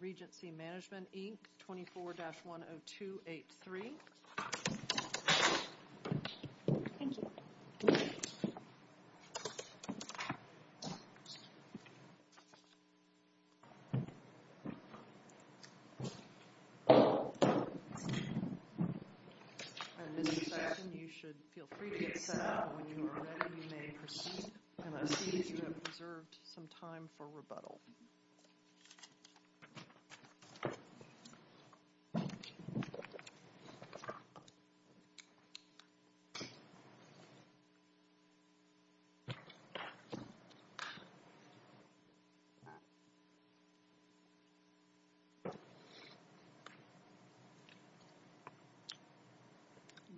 Regency Management Inc. 24-10283. Thank you. Thank you. Thank you. It's time for rebuttal.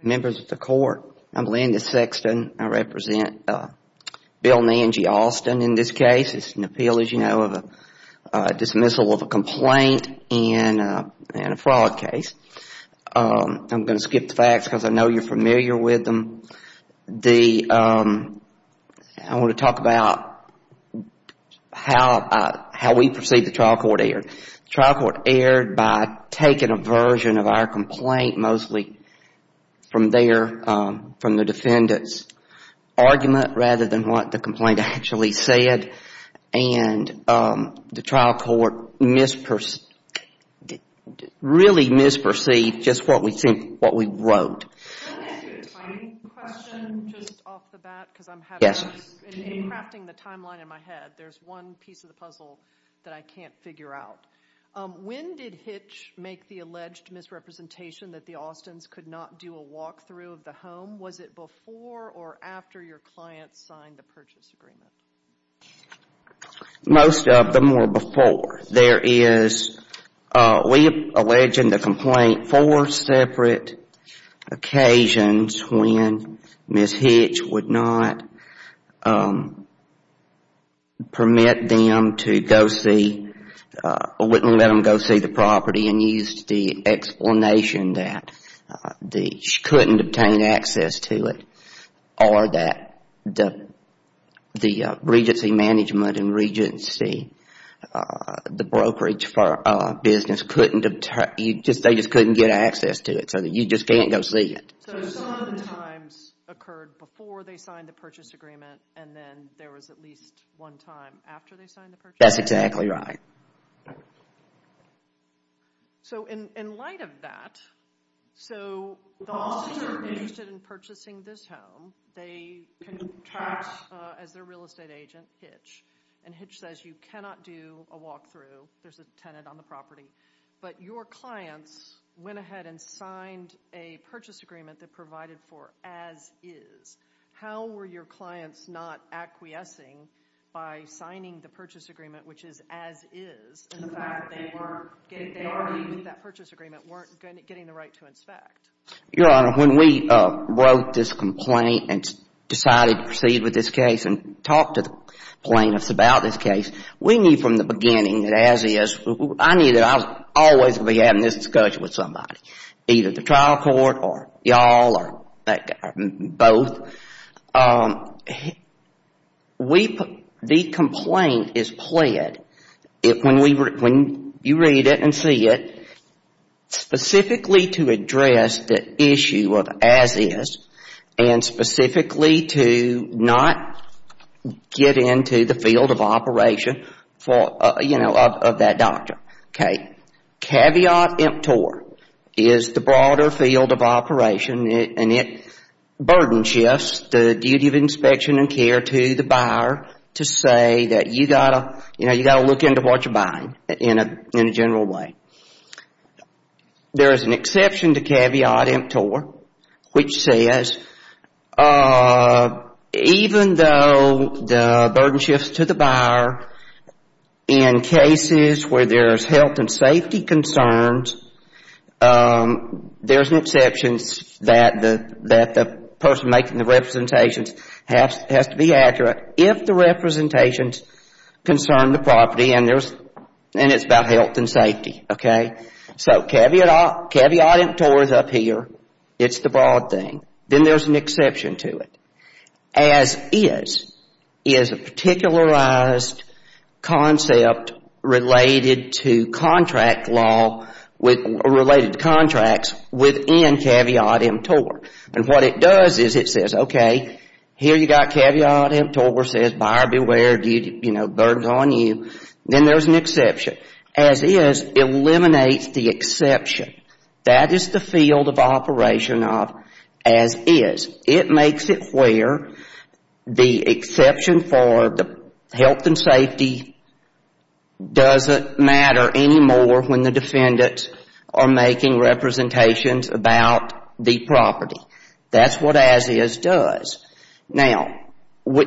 Members of the Court, I'm Landis Sexton. I represent Bill and Angie Austin in this case. It's an appeal, as you know, of a dismissal of a complaint in a fraud case. I'm going to skip the facts because I know you're familiar with them. I want to talk about how we perceive the trial court error. The trial court erred by taking a version of our complaint mostly from the defendant's argument rather than what the complaint actually said. And the trial court really misperceived just what we wrote. Can I ask you a tiny question just off the bat? Yes. In crafting the timeline in my head, there's one piece of the puzzle that I can't figure out. When did Hitch make the alleged misrepresentation that the Austins could not do a walkthrough of the home? Was it before or after your client signed the purchase agreement? Most of them were before. There is, we allege in the complaint, four separate occasions when Ms. Hitch would not permit them to go see, wouldn't let them go see the property and used the explanation that she couldn't obtain access to it or that the regency management and regency, the brokerage for business, couldn't obtain, they just couldn't get access to it so that you just can't go see it. So some of the times occurred before they signed the purchase agreement and then there was at least one time after they signed the purchase agreement? That's exactly right. So in light of that, so the Austins are interested in purchasing this home. They contract as their real estate agent, Hitch, and Hitch says you cannot do a walkthrough. There's a tenant on the property. But your clients went ahead and signed a purchase agreement that provided for as is. How were your clients not acquiescing by signing the purchase agreement, which is as is, and the fact that they weren't, they argued with that purchase agreement, weren't getting the right to inspect? Your Honor, when we wrote this complaint and decided to proceed with this case and talked to the plaintiffs about this case, we knew from the beginning that as is, I knew that I was always going to be having this discussion with somebody, either the trial court or y'all or both. The complaint is pled, when you read it and see it, specifically to address the issue of as is and specifically to not get into the field of operation of that doctor. Okay. Caveat emptor is the broader field of operation, and it burden shifts the duty of inspection and care to the buyer to say that you got to look into what you're buying in a general way. There is an exception to caveat emptor, which says even though the burden shifts to the buyer, in cases where there's health and safety concerns, there's an exception that the person making the representations has to be accurate if the representations concern the property and it's about health and safety. Okay. So caveat emptor is up here. It's the broad thing. Then there's an exception to it. As is is a particularized concept related to contract law, related to contracts within caveat emptor. And what it does is it says, okay, here you got caveat emptor, says buyer beware, you know, burden's on you. Then there's an exception. As is eliminates the exception. That is the field of operation of as is. It makes it where the exception for the health and safety doesn't matter anymore when the defendants are making representations about the property. That's what as is does. Now,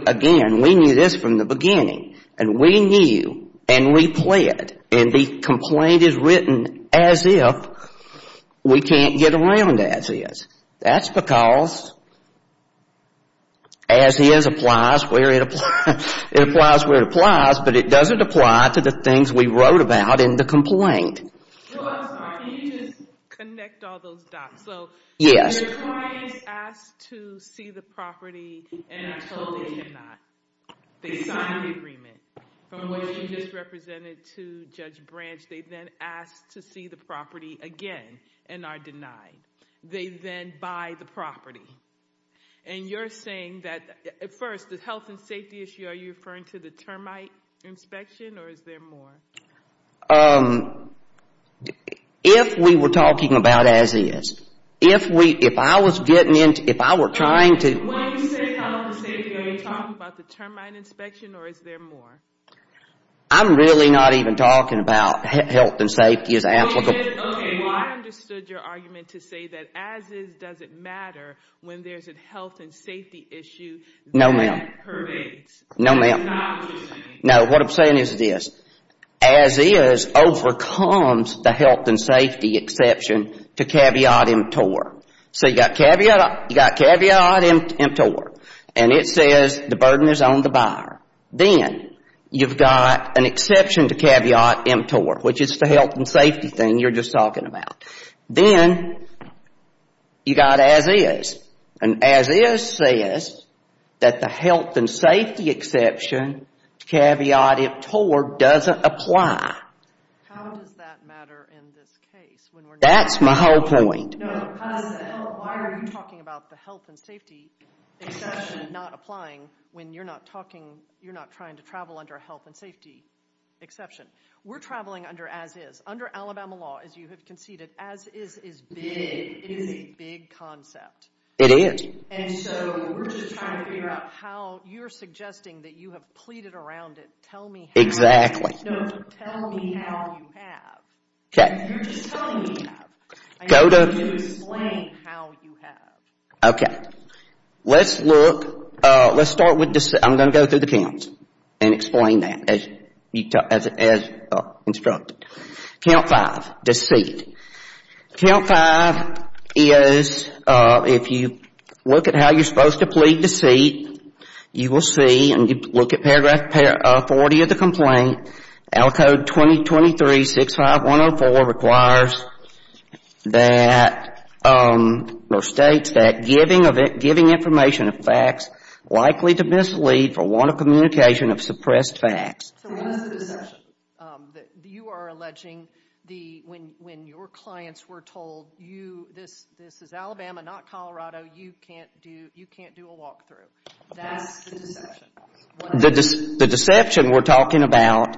again, we knew this from the beginning. And we knew and we pled, and the complaint is written as if we can't get around as is. That's because as is applies where it applies. But it doesn't apply to the things we wrote about in the complaint. Can you just connect all those dots? Yes. So the client asks to see the property and I totally did not. They signed the agreement from which you just represented to Judge Branch. They then ask to see the property again and are denied. They then buy the property. And you're saying that, first, the health and safety issue, are you referring to the termite inspection or is there more? If we were talking about as is, if I was getting into, if I were trying to When you say health and safety, are you talking about the termite inspection or is there more? I'm really not even talking about health and safety as applicable. I understood your argument to say that as is doesn't matter when there's a health and safety issue. No, ma'am. No, what I'm saying is this. As is overcomes the health and safety exception to caveat emptor. So you've got caveat emptor and it says the burden is on the buyer. Then you've got an exception to caveat emptor, which is the health and safety thing you're just talking about. Then you've got as is. And as is says that the health and safety exception to caveat emptor doesn't apply. How does that matter in this case? That's my whole point. Why are you talking about the health and safety exception not applying when you're not trying to travel under a health and safety exception? We're traveling under as is. Under Alabama law, as you have conceded, as is is big. It is a big concept. It is. And so we're just trying to figure out how you're suggesting that you have pleaded around it. Tell me how. Exactly. No, tell me how you have. Okay. You're just telling me how. Explain how you have. Okay. Let's look, let's start with, I'm going to go through the counts and explain that as instructed. Count five, deceit. Count five is, if you look at how you're supposed to plead deceit, you will see, look at paragraph 40 of the complaint, Al Code 2023-65104 requires that, or states that giving information of facts likely to mislead for want of communication of suppressed facts. So what is the deception that you are alleging when your clients were told this is Alabama, not Colorado, you can't do a walk-through? That's the deception. The deception we're talking about,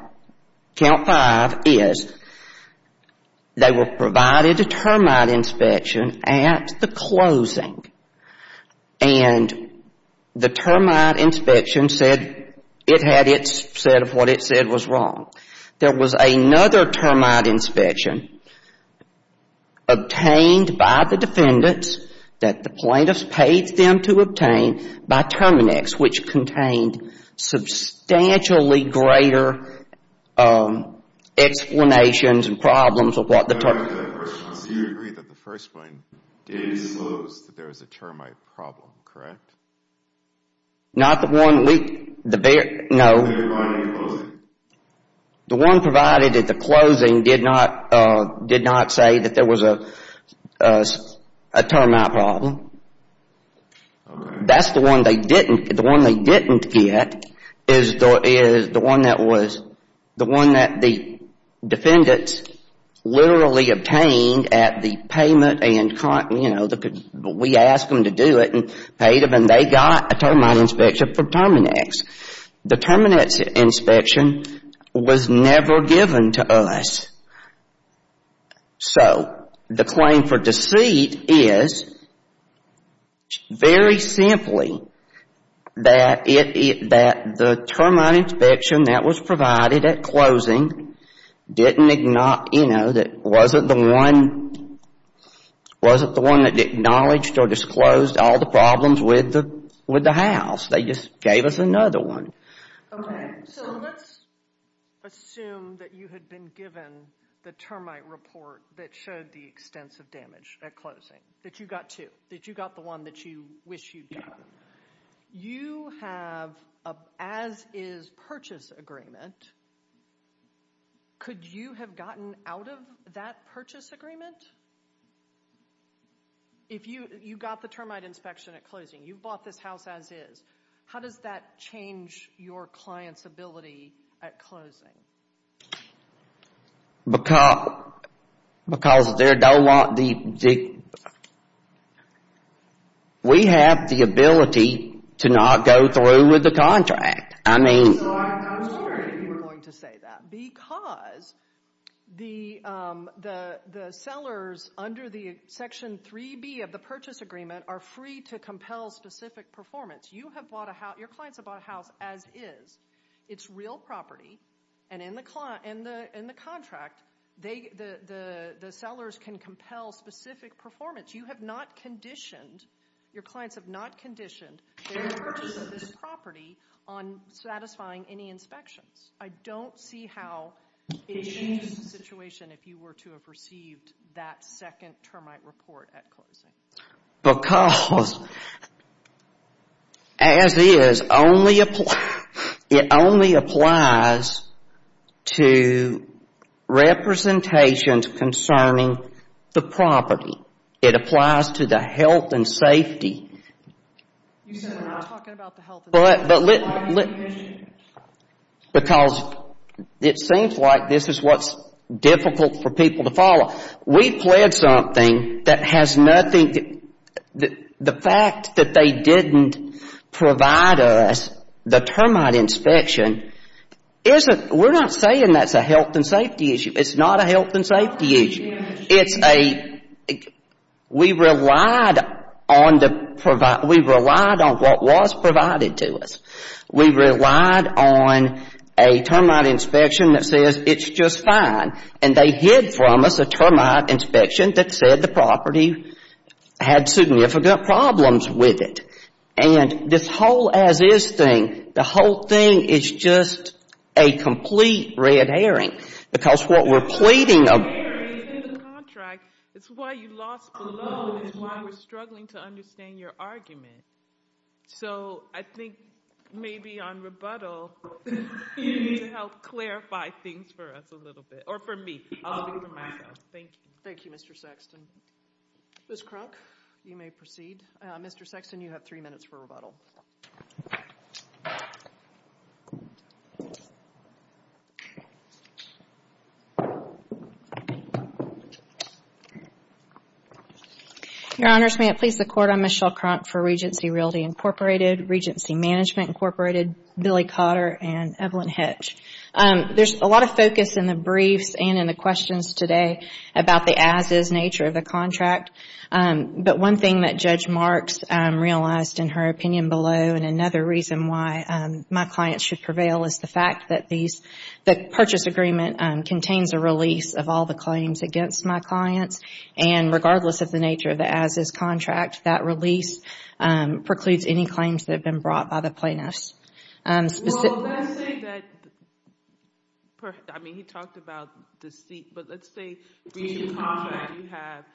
count five, is they were provided a termite inspection at the closing. And the termite inspection said it had its set of what it said was wrong. There was another termite inspection obtained by the defendants that the plaintiffs paid them to obtain by Terminex, which contained substantially greater explanations and problems of what the termite. Do you agree that the first one did impose that there was a termite problem, correct? Not the one we, no. The one provided at the closing did not say that there was a termite problem. That's the one they didn't, the one they didn't get is the one that was, the one that the defendants literally obtained at the payment and, you know, we asked them to do it and paid them and they got a termite inspection from Terminex. The Terminex inspection was never given to us. So the claim for deceit is very simply that the termite inspection that was provided at closing didn't, you know, that wasn't the one that acknowledged or disclosed all the problems with the house. They just gave us another one. Okay, so let's assume that you had been given the termite report that showed the extensive damage at closing, that you got two, that you got the one that you wish you'd gotten. You have an as-is purchase agreement. Could you have gotten out of that purchase agreement? If you got the termite inspection at closing, you bought this house as-is, how does that change your client's ability at closing? Because they don't want the, we have the ability to not go through with the contract. So I was wondering if you were going to say that, because the sellers under the Section 3B of the purchase agreement are free to compel specific performance. You have bought a house, your clients have bought a house as-is. It's real property, and in the contract, the sellers can compel specific performance. You have not conditioned, your clients have not conditioned their purchase of this property on satisfying any inspections. I don't see how it changes the situation if you were to have received that second termite report at closing. Because as-is, it only applies to representations concerning the property. It applies to the health and safety. You said we're not talking about the health and safety. Because it seems like this is what's difficult for people to follow. We pled something that has nothing, the fact that they didn't provide us the termite inspection isn't, we're not saying that's a health and safety issue. It's not a health and safety issue. It's a, we relied on the, we relied on what was provided to us. We relied on a termite inspection that says it's just fine. And they hid from us a termite inspection that said the property had significant problems with it. And this whole as-is thing, the whole thing is just a complete red herring. Because what we're pleading of the contract, it's why you lost the loan. It's why we're struggling to understand your argument. So I think maybe on rebuttal, you need to help clarify things for us a little bit, or for me. I'll do it for myself. Thank you. Thank you, Mr. Sexton. Ms. Kronk, you may proceed. Mr. Sexton, you have three minutes for rebuttal. Your Honors, may it please the Court, I'm Michelle Kronk for Regency Realty Incorporated, Regency Management Incorporated, Billy Cotter, and Evelyn Hetch. There's a lot of focus in the briefs and in the questions today about the as-is nature of the contract. But one thing that Judge Marks realized in her opinion below, and another reason why my clients should prevail, is the fact that the purchase agreement contains a release of all the claims against my clients. And regardless of the nature of the as-is contract, that release precludes any claims that have been brought by the plaintiffs. Well, let's say that, I mean, he talked about deceit, but let's say breach of contract,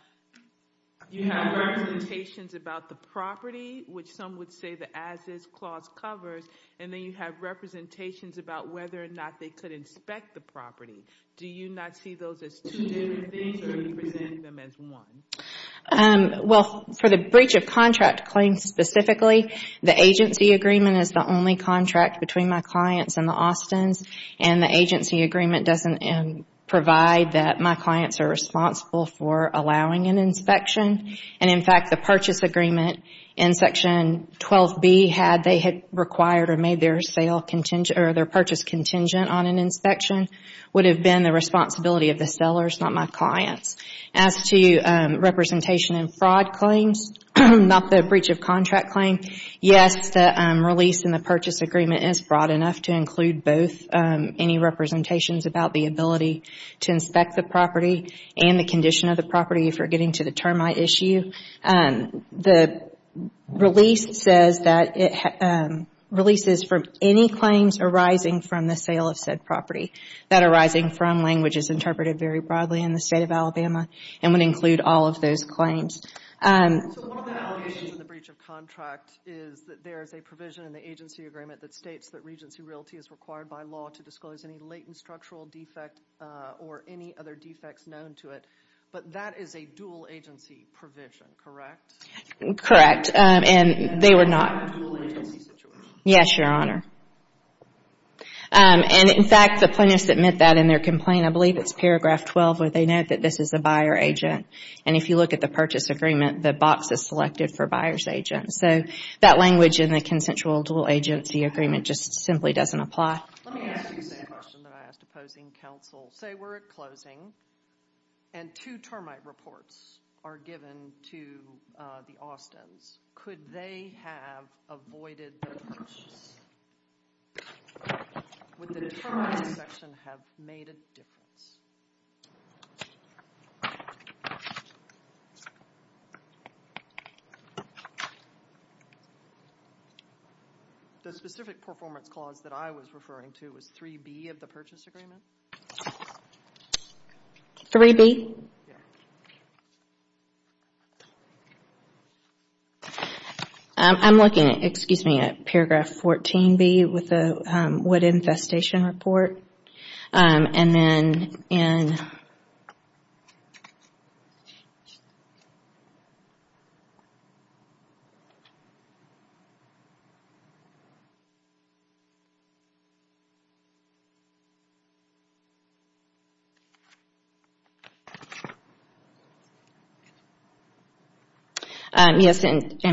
you have representations about the property, which some would say the as-is clause covers, and then you have representations about whether or not they could inspect the property. Do you not see those as two different things, or do you present them as one? Well, for the breach of contract claims specifically, the agency agreement is the only contract between my clients and the Austins, and the agency agreement doesn't provide that my clients are responsible for allowing an inspection. And in fact, the purchase agreement in Section 12B, had they had required or made their purchase contingent on an inspection, would have been the responsibility of the sellers, not my clients. As to representation in fraud claims, not the breach of contract claim, yes, the release in the purchase agreement is broad enough to include both, any representations about the ability to inspect the property and the condition of the property if you're getting to the termite issue. The release says that it releases from any claims arising from the sale of said property. That arising from language is interpreted very broadly in the state of Alabama and would include all of those claims. So one of the allegations in the breach of contract is that there is a provision in the agency agreement that states that Regency Realty is required by law to disclose any latent structural defect or any other defects known to it, but that is a dual agency provision, correct? Correct, and they were not. Yes, Your Honor. And, in fact, the plaintiffs admit that in their complaint. I believe it's paragraph 12 where they note that this is the buyer agent, and if you look at the purchase agreement, the box is selected for buyer's agent. So that language in the consensual dual agency agreement just simply doesn't apply. Let me ask you the same question that I asked opposing counsel. Say we're at closing and two termite reports are given to the Austins. Could they have avoided the purchase? Would the termite section have made a difference? The specific performance clause that I was referring to is 3B of the purchase agreement. 3B? I'm looking at, excuse me, at paragraph 14B with the wood infestation report. And then in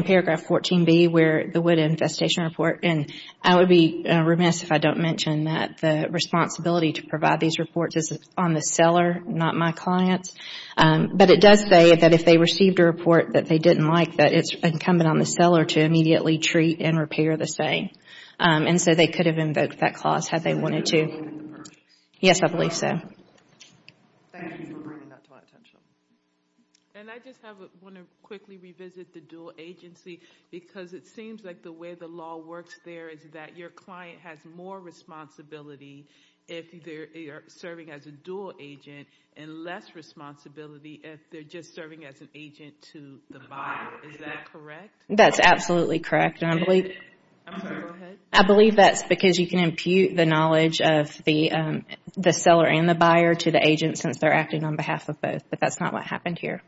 paragraph 14B where the wood infestation report, and I would be remiss if I don't mention that the responsibility to provide these reports is on the seller, not my clients. But it does say that if they received a report that they didn't like, that it's incumbent on the seller to immediately treat and repair the same. And so they could have invoked that clause had they wanted to. Yes, I believe so. Thank you for bringing that to my attention. And I just want to quickly revisit the dual agency, because it seems like the way the law works there is that your client has more responsibility if they're serving as a dual agent, and less responsibility if they're just serving as an agent to the buyer. Is that correct? That's absolutely correct. I'm sorry, go ahead. I believe that's because you can impute the knowledge of the seller and the buyer to the agent since they're acting on behalf of both. But that's not what happened here.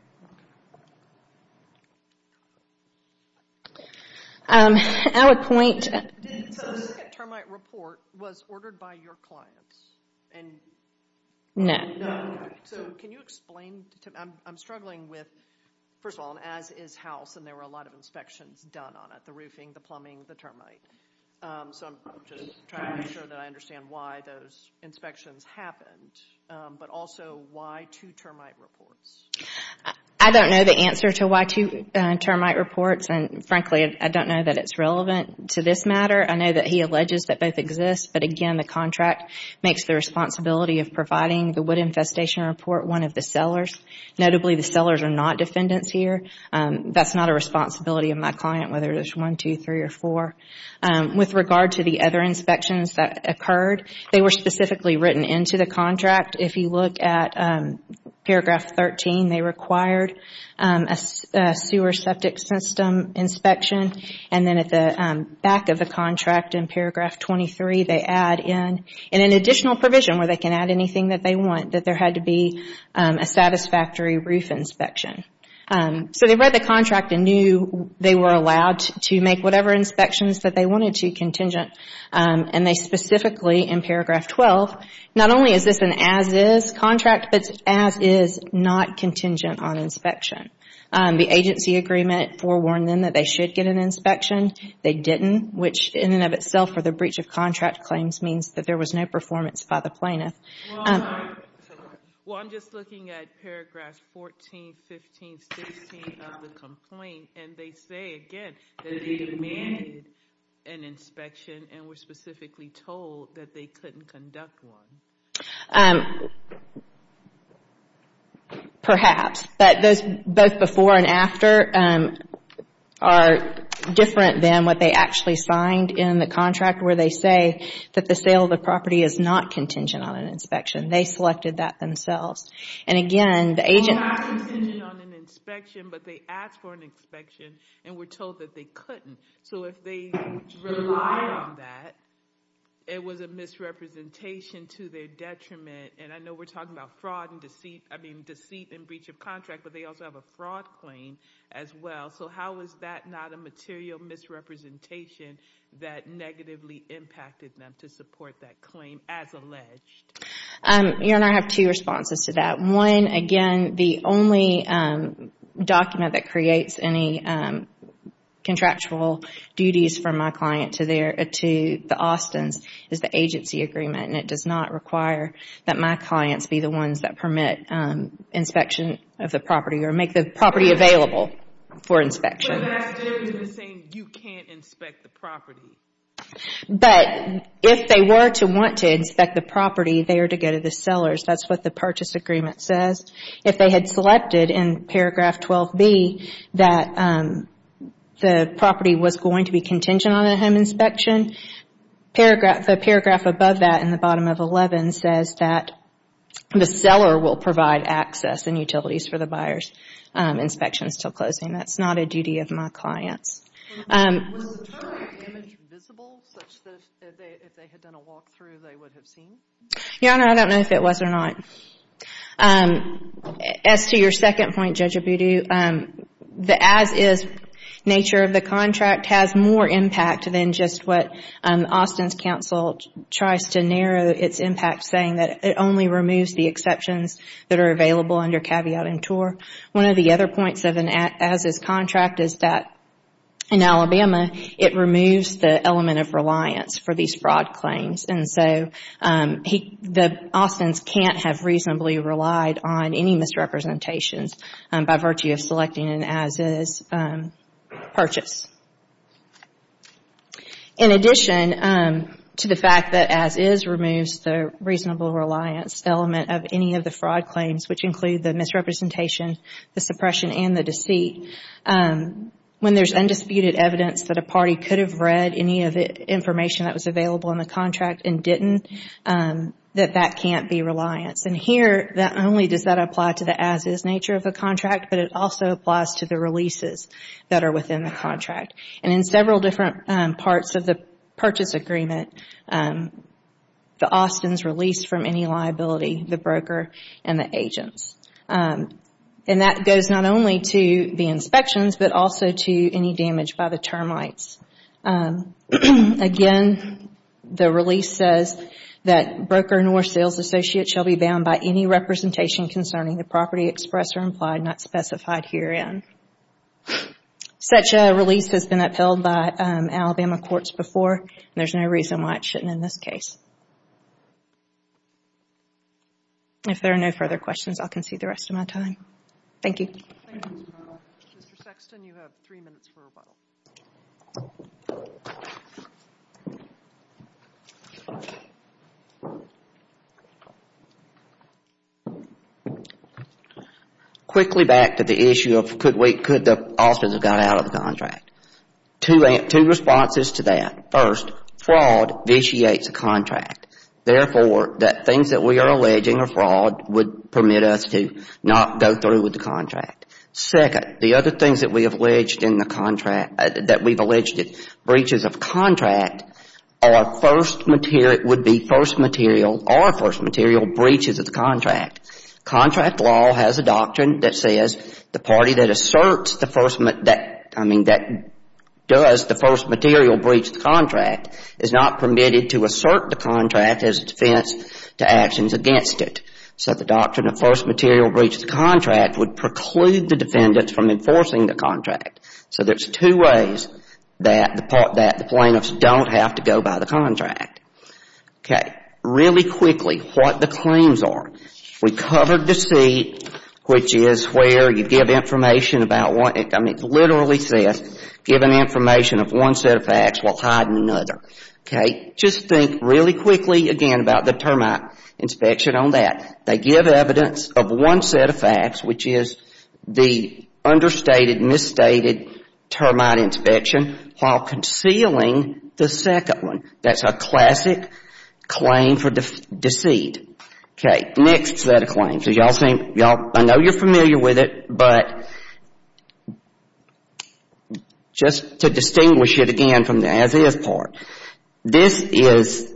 I would point... So the second termite report was ordered by your clients? No. So can you explain? I'm struggling with, first of all, as is house, and there were a lot of inspections done on it, the roofing, the plumbing, the termite. So I'm just trying to make sure that I understand why those inspections happened. But also, why two termite reports? I don't know the answer to why two termite reports, and frankly I don't know that it's relevant to this matter. I know that he alleges that both exist, but again the contract makes the responsibility of providing the wood infestation report one of the sellers. Notably, the sellers are not defendants here. That's not a responsibility of my client, whether it's one, two, three, or four. With regard to the other inspections that occurred, they were specifically written into the contract. If you look at paragraph 13, they required a sewer septic system inspection. And then at the back of the contract in paragraph 23, they add in an additional provision where they can add anything that they want, that there had to be a satisfactory roof inspection. So they read the contract and knew they were allowed to make whatever inspections that they wanted to contingent, and they specifically in paragraph 12, not only is this an as-is contract, but as-is not contingent on inspection. The agency agreement forewarned them that they should get an inspection. They didn't, which in and of itself for the breach of contract claims means that there was no performance by the plaintiff. Well, I'm just looking at paragraphs 14, 15, 16 of the complaint, and they say again that they demanded an inspection and were specifically told that they couldn't conduct one. Perhaps. But those both before and after are different than what they actually signed in the contract where they say that the sale of the property is not contingent on an inspection. They selected that themselves. Not contingent on an inspection, but they asked for an inspection and were told that they couldn't. So if they relied on that, it was a misrepresentation to their detriment. And I know we're talking about fraud and deceit, I mean deceit and breach of contract, but they also have a fraud claim as well. So how is that not a material misrepresentation that negatively impacted them to support that claim as alleged? Erin, I have two responses to that. One, again, the only document that creates any contractual duties for my client to the Austins is the agency agreement, and it does not require that my clients be the ones that permit inspection of the property or make the property available for inspection. But that's different than saying you can't inspect the property. But if they were to want to inspect the property, they are to go to the sellers. That's what the purchase agreement says. If they had selected in paragraph 12B that the property was going to be contingent on a home inspection, the paragraph above that in the bottom of 11 says that the seller will provide access and utilities for the buyers. Inspection is still closing. That's not a duty of my clients. Was the term damage visible such that if they had done a walk-through, they would have seen? Yeah, I don't know if it was or not. As to your second point, Judge Abudu, the as-is nature of the contract has more impact than just what Austin's counsel tries to narrow its impact, saying that it only removes the exceptions that are available under caveat inter. One of the other points of an as-is contract is that in Alabama, it removes the element of reliance for these fraud claims. And so the Austins can't have reasonably relied on any misrepresentations by virtue of selecting an as-is purchase. In addition to the fact that as-is removes the reasonable reliance element of any of the fraud claims, which include the misrepresentation, the suppression, and the deceit, when there's undisputed evidence that a party could have read any of the information that was available in the contract and didn't, that that can't be reliance. And here, not only does that apply to the as-is nature of the contract, but it also applies to the releases that are within the contract. And in several different parts of the purchase agreement, the Austins release from any liability, the broker and the agents. And that goes not only to the inspections, but also to any damage by the termites. Again, the release says that broker nor sales associate shall be bound by any representation concerning the property expressed or implied, not specified herein. Such a release has been upheld by Alabama courts before. There's no reason why it shouldn't in this case. If there are no further questions, I'll concede the rest of my time. Thank you. Mr. Sexton, you have three minutes for rebuttal. Quickly back to the issue of could we, could the Austins have got out of the contract. Two responses to that. First, fraud vitiates a contract. Therefore, the things that we are alleging are fraud would permit us to not go through with the contract. Second, the other things that we have alleged in the contract, that we've alleged it, breaches of contract are first material, would be first material or first material breaches of the contract. Contract law has a doctrine that says the party that asserts the first, I mean that does the first material breach the contract is not permitted to assert the contract as defense to actions against it. So the doctrine of first material breach of the contract would preclude the defendant from enforcing the contract. So there's two ways that the plaintiffs don't have to go by the contract. Okay. Really quickly, what the claims are. We covered deceit, which is where you give information about what it literally says, given information of one set of facts while hiding another. Okay. Just think really quickly again about the termite inspection on that. They give evidence of one set of facts, which is the understated, misstated termite inspection, while concealing the second one. That's a classic claim for deceit. Okay. Next set of claims. I know you're familiar with it, but just to distinguish it again from the as is part. This is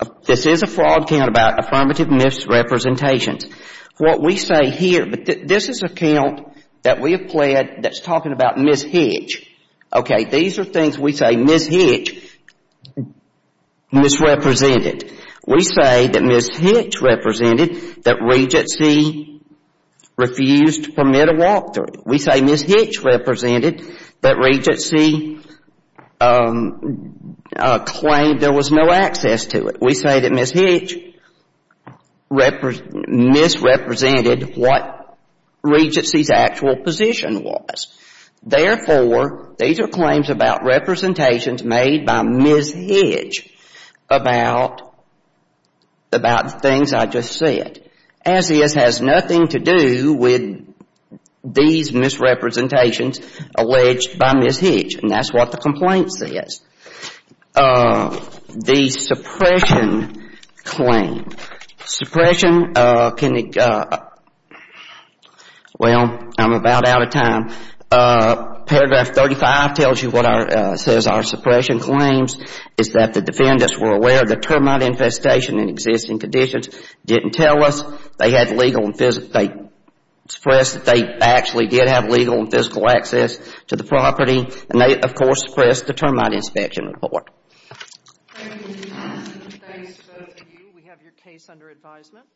a fraud count about affirmative misrepresentations. What we say here, this is a count that we have pled that's talking about Ms. Hitch. Okay. These are things we say Ms. Hitch misrepresented. We say that Ms. Hitch represented that Regency refused to permit a walkthrough. We say Ms. Hitch represented that Regency claimed there was no access to it. We say that Ms. Hitch misrepresented what Regency's actual position was. Therefore, these are claims about representations made by Ms. Hitch about the things I just said. As is has nothing to do with these misrepresentations alleged by Ms. Hitch. And that's what the complaint says. The suppression claim. Suppression can be – well, I'm about out of time. Paragraph 35 tells you what our – says our suppression claims is that the defendants were aware that termite infestation in existing conditions. Didn't tell us they had legal and physical – they expressed that they actually did have legal and physical access to the property. And they, of course, suppressed the termite inspection report. Thank you. Thanks to both of you. We have your case under advisement.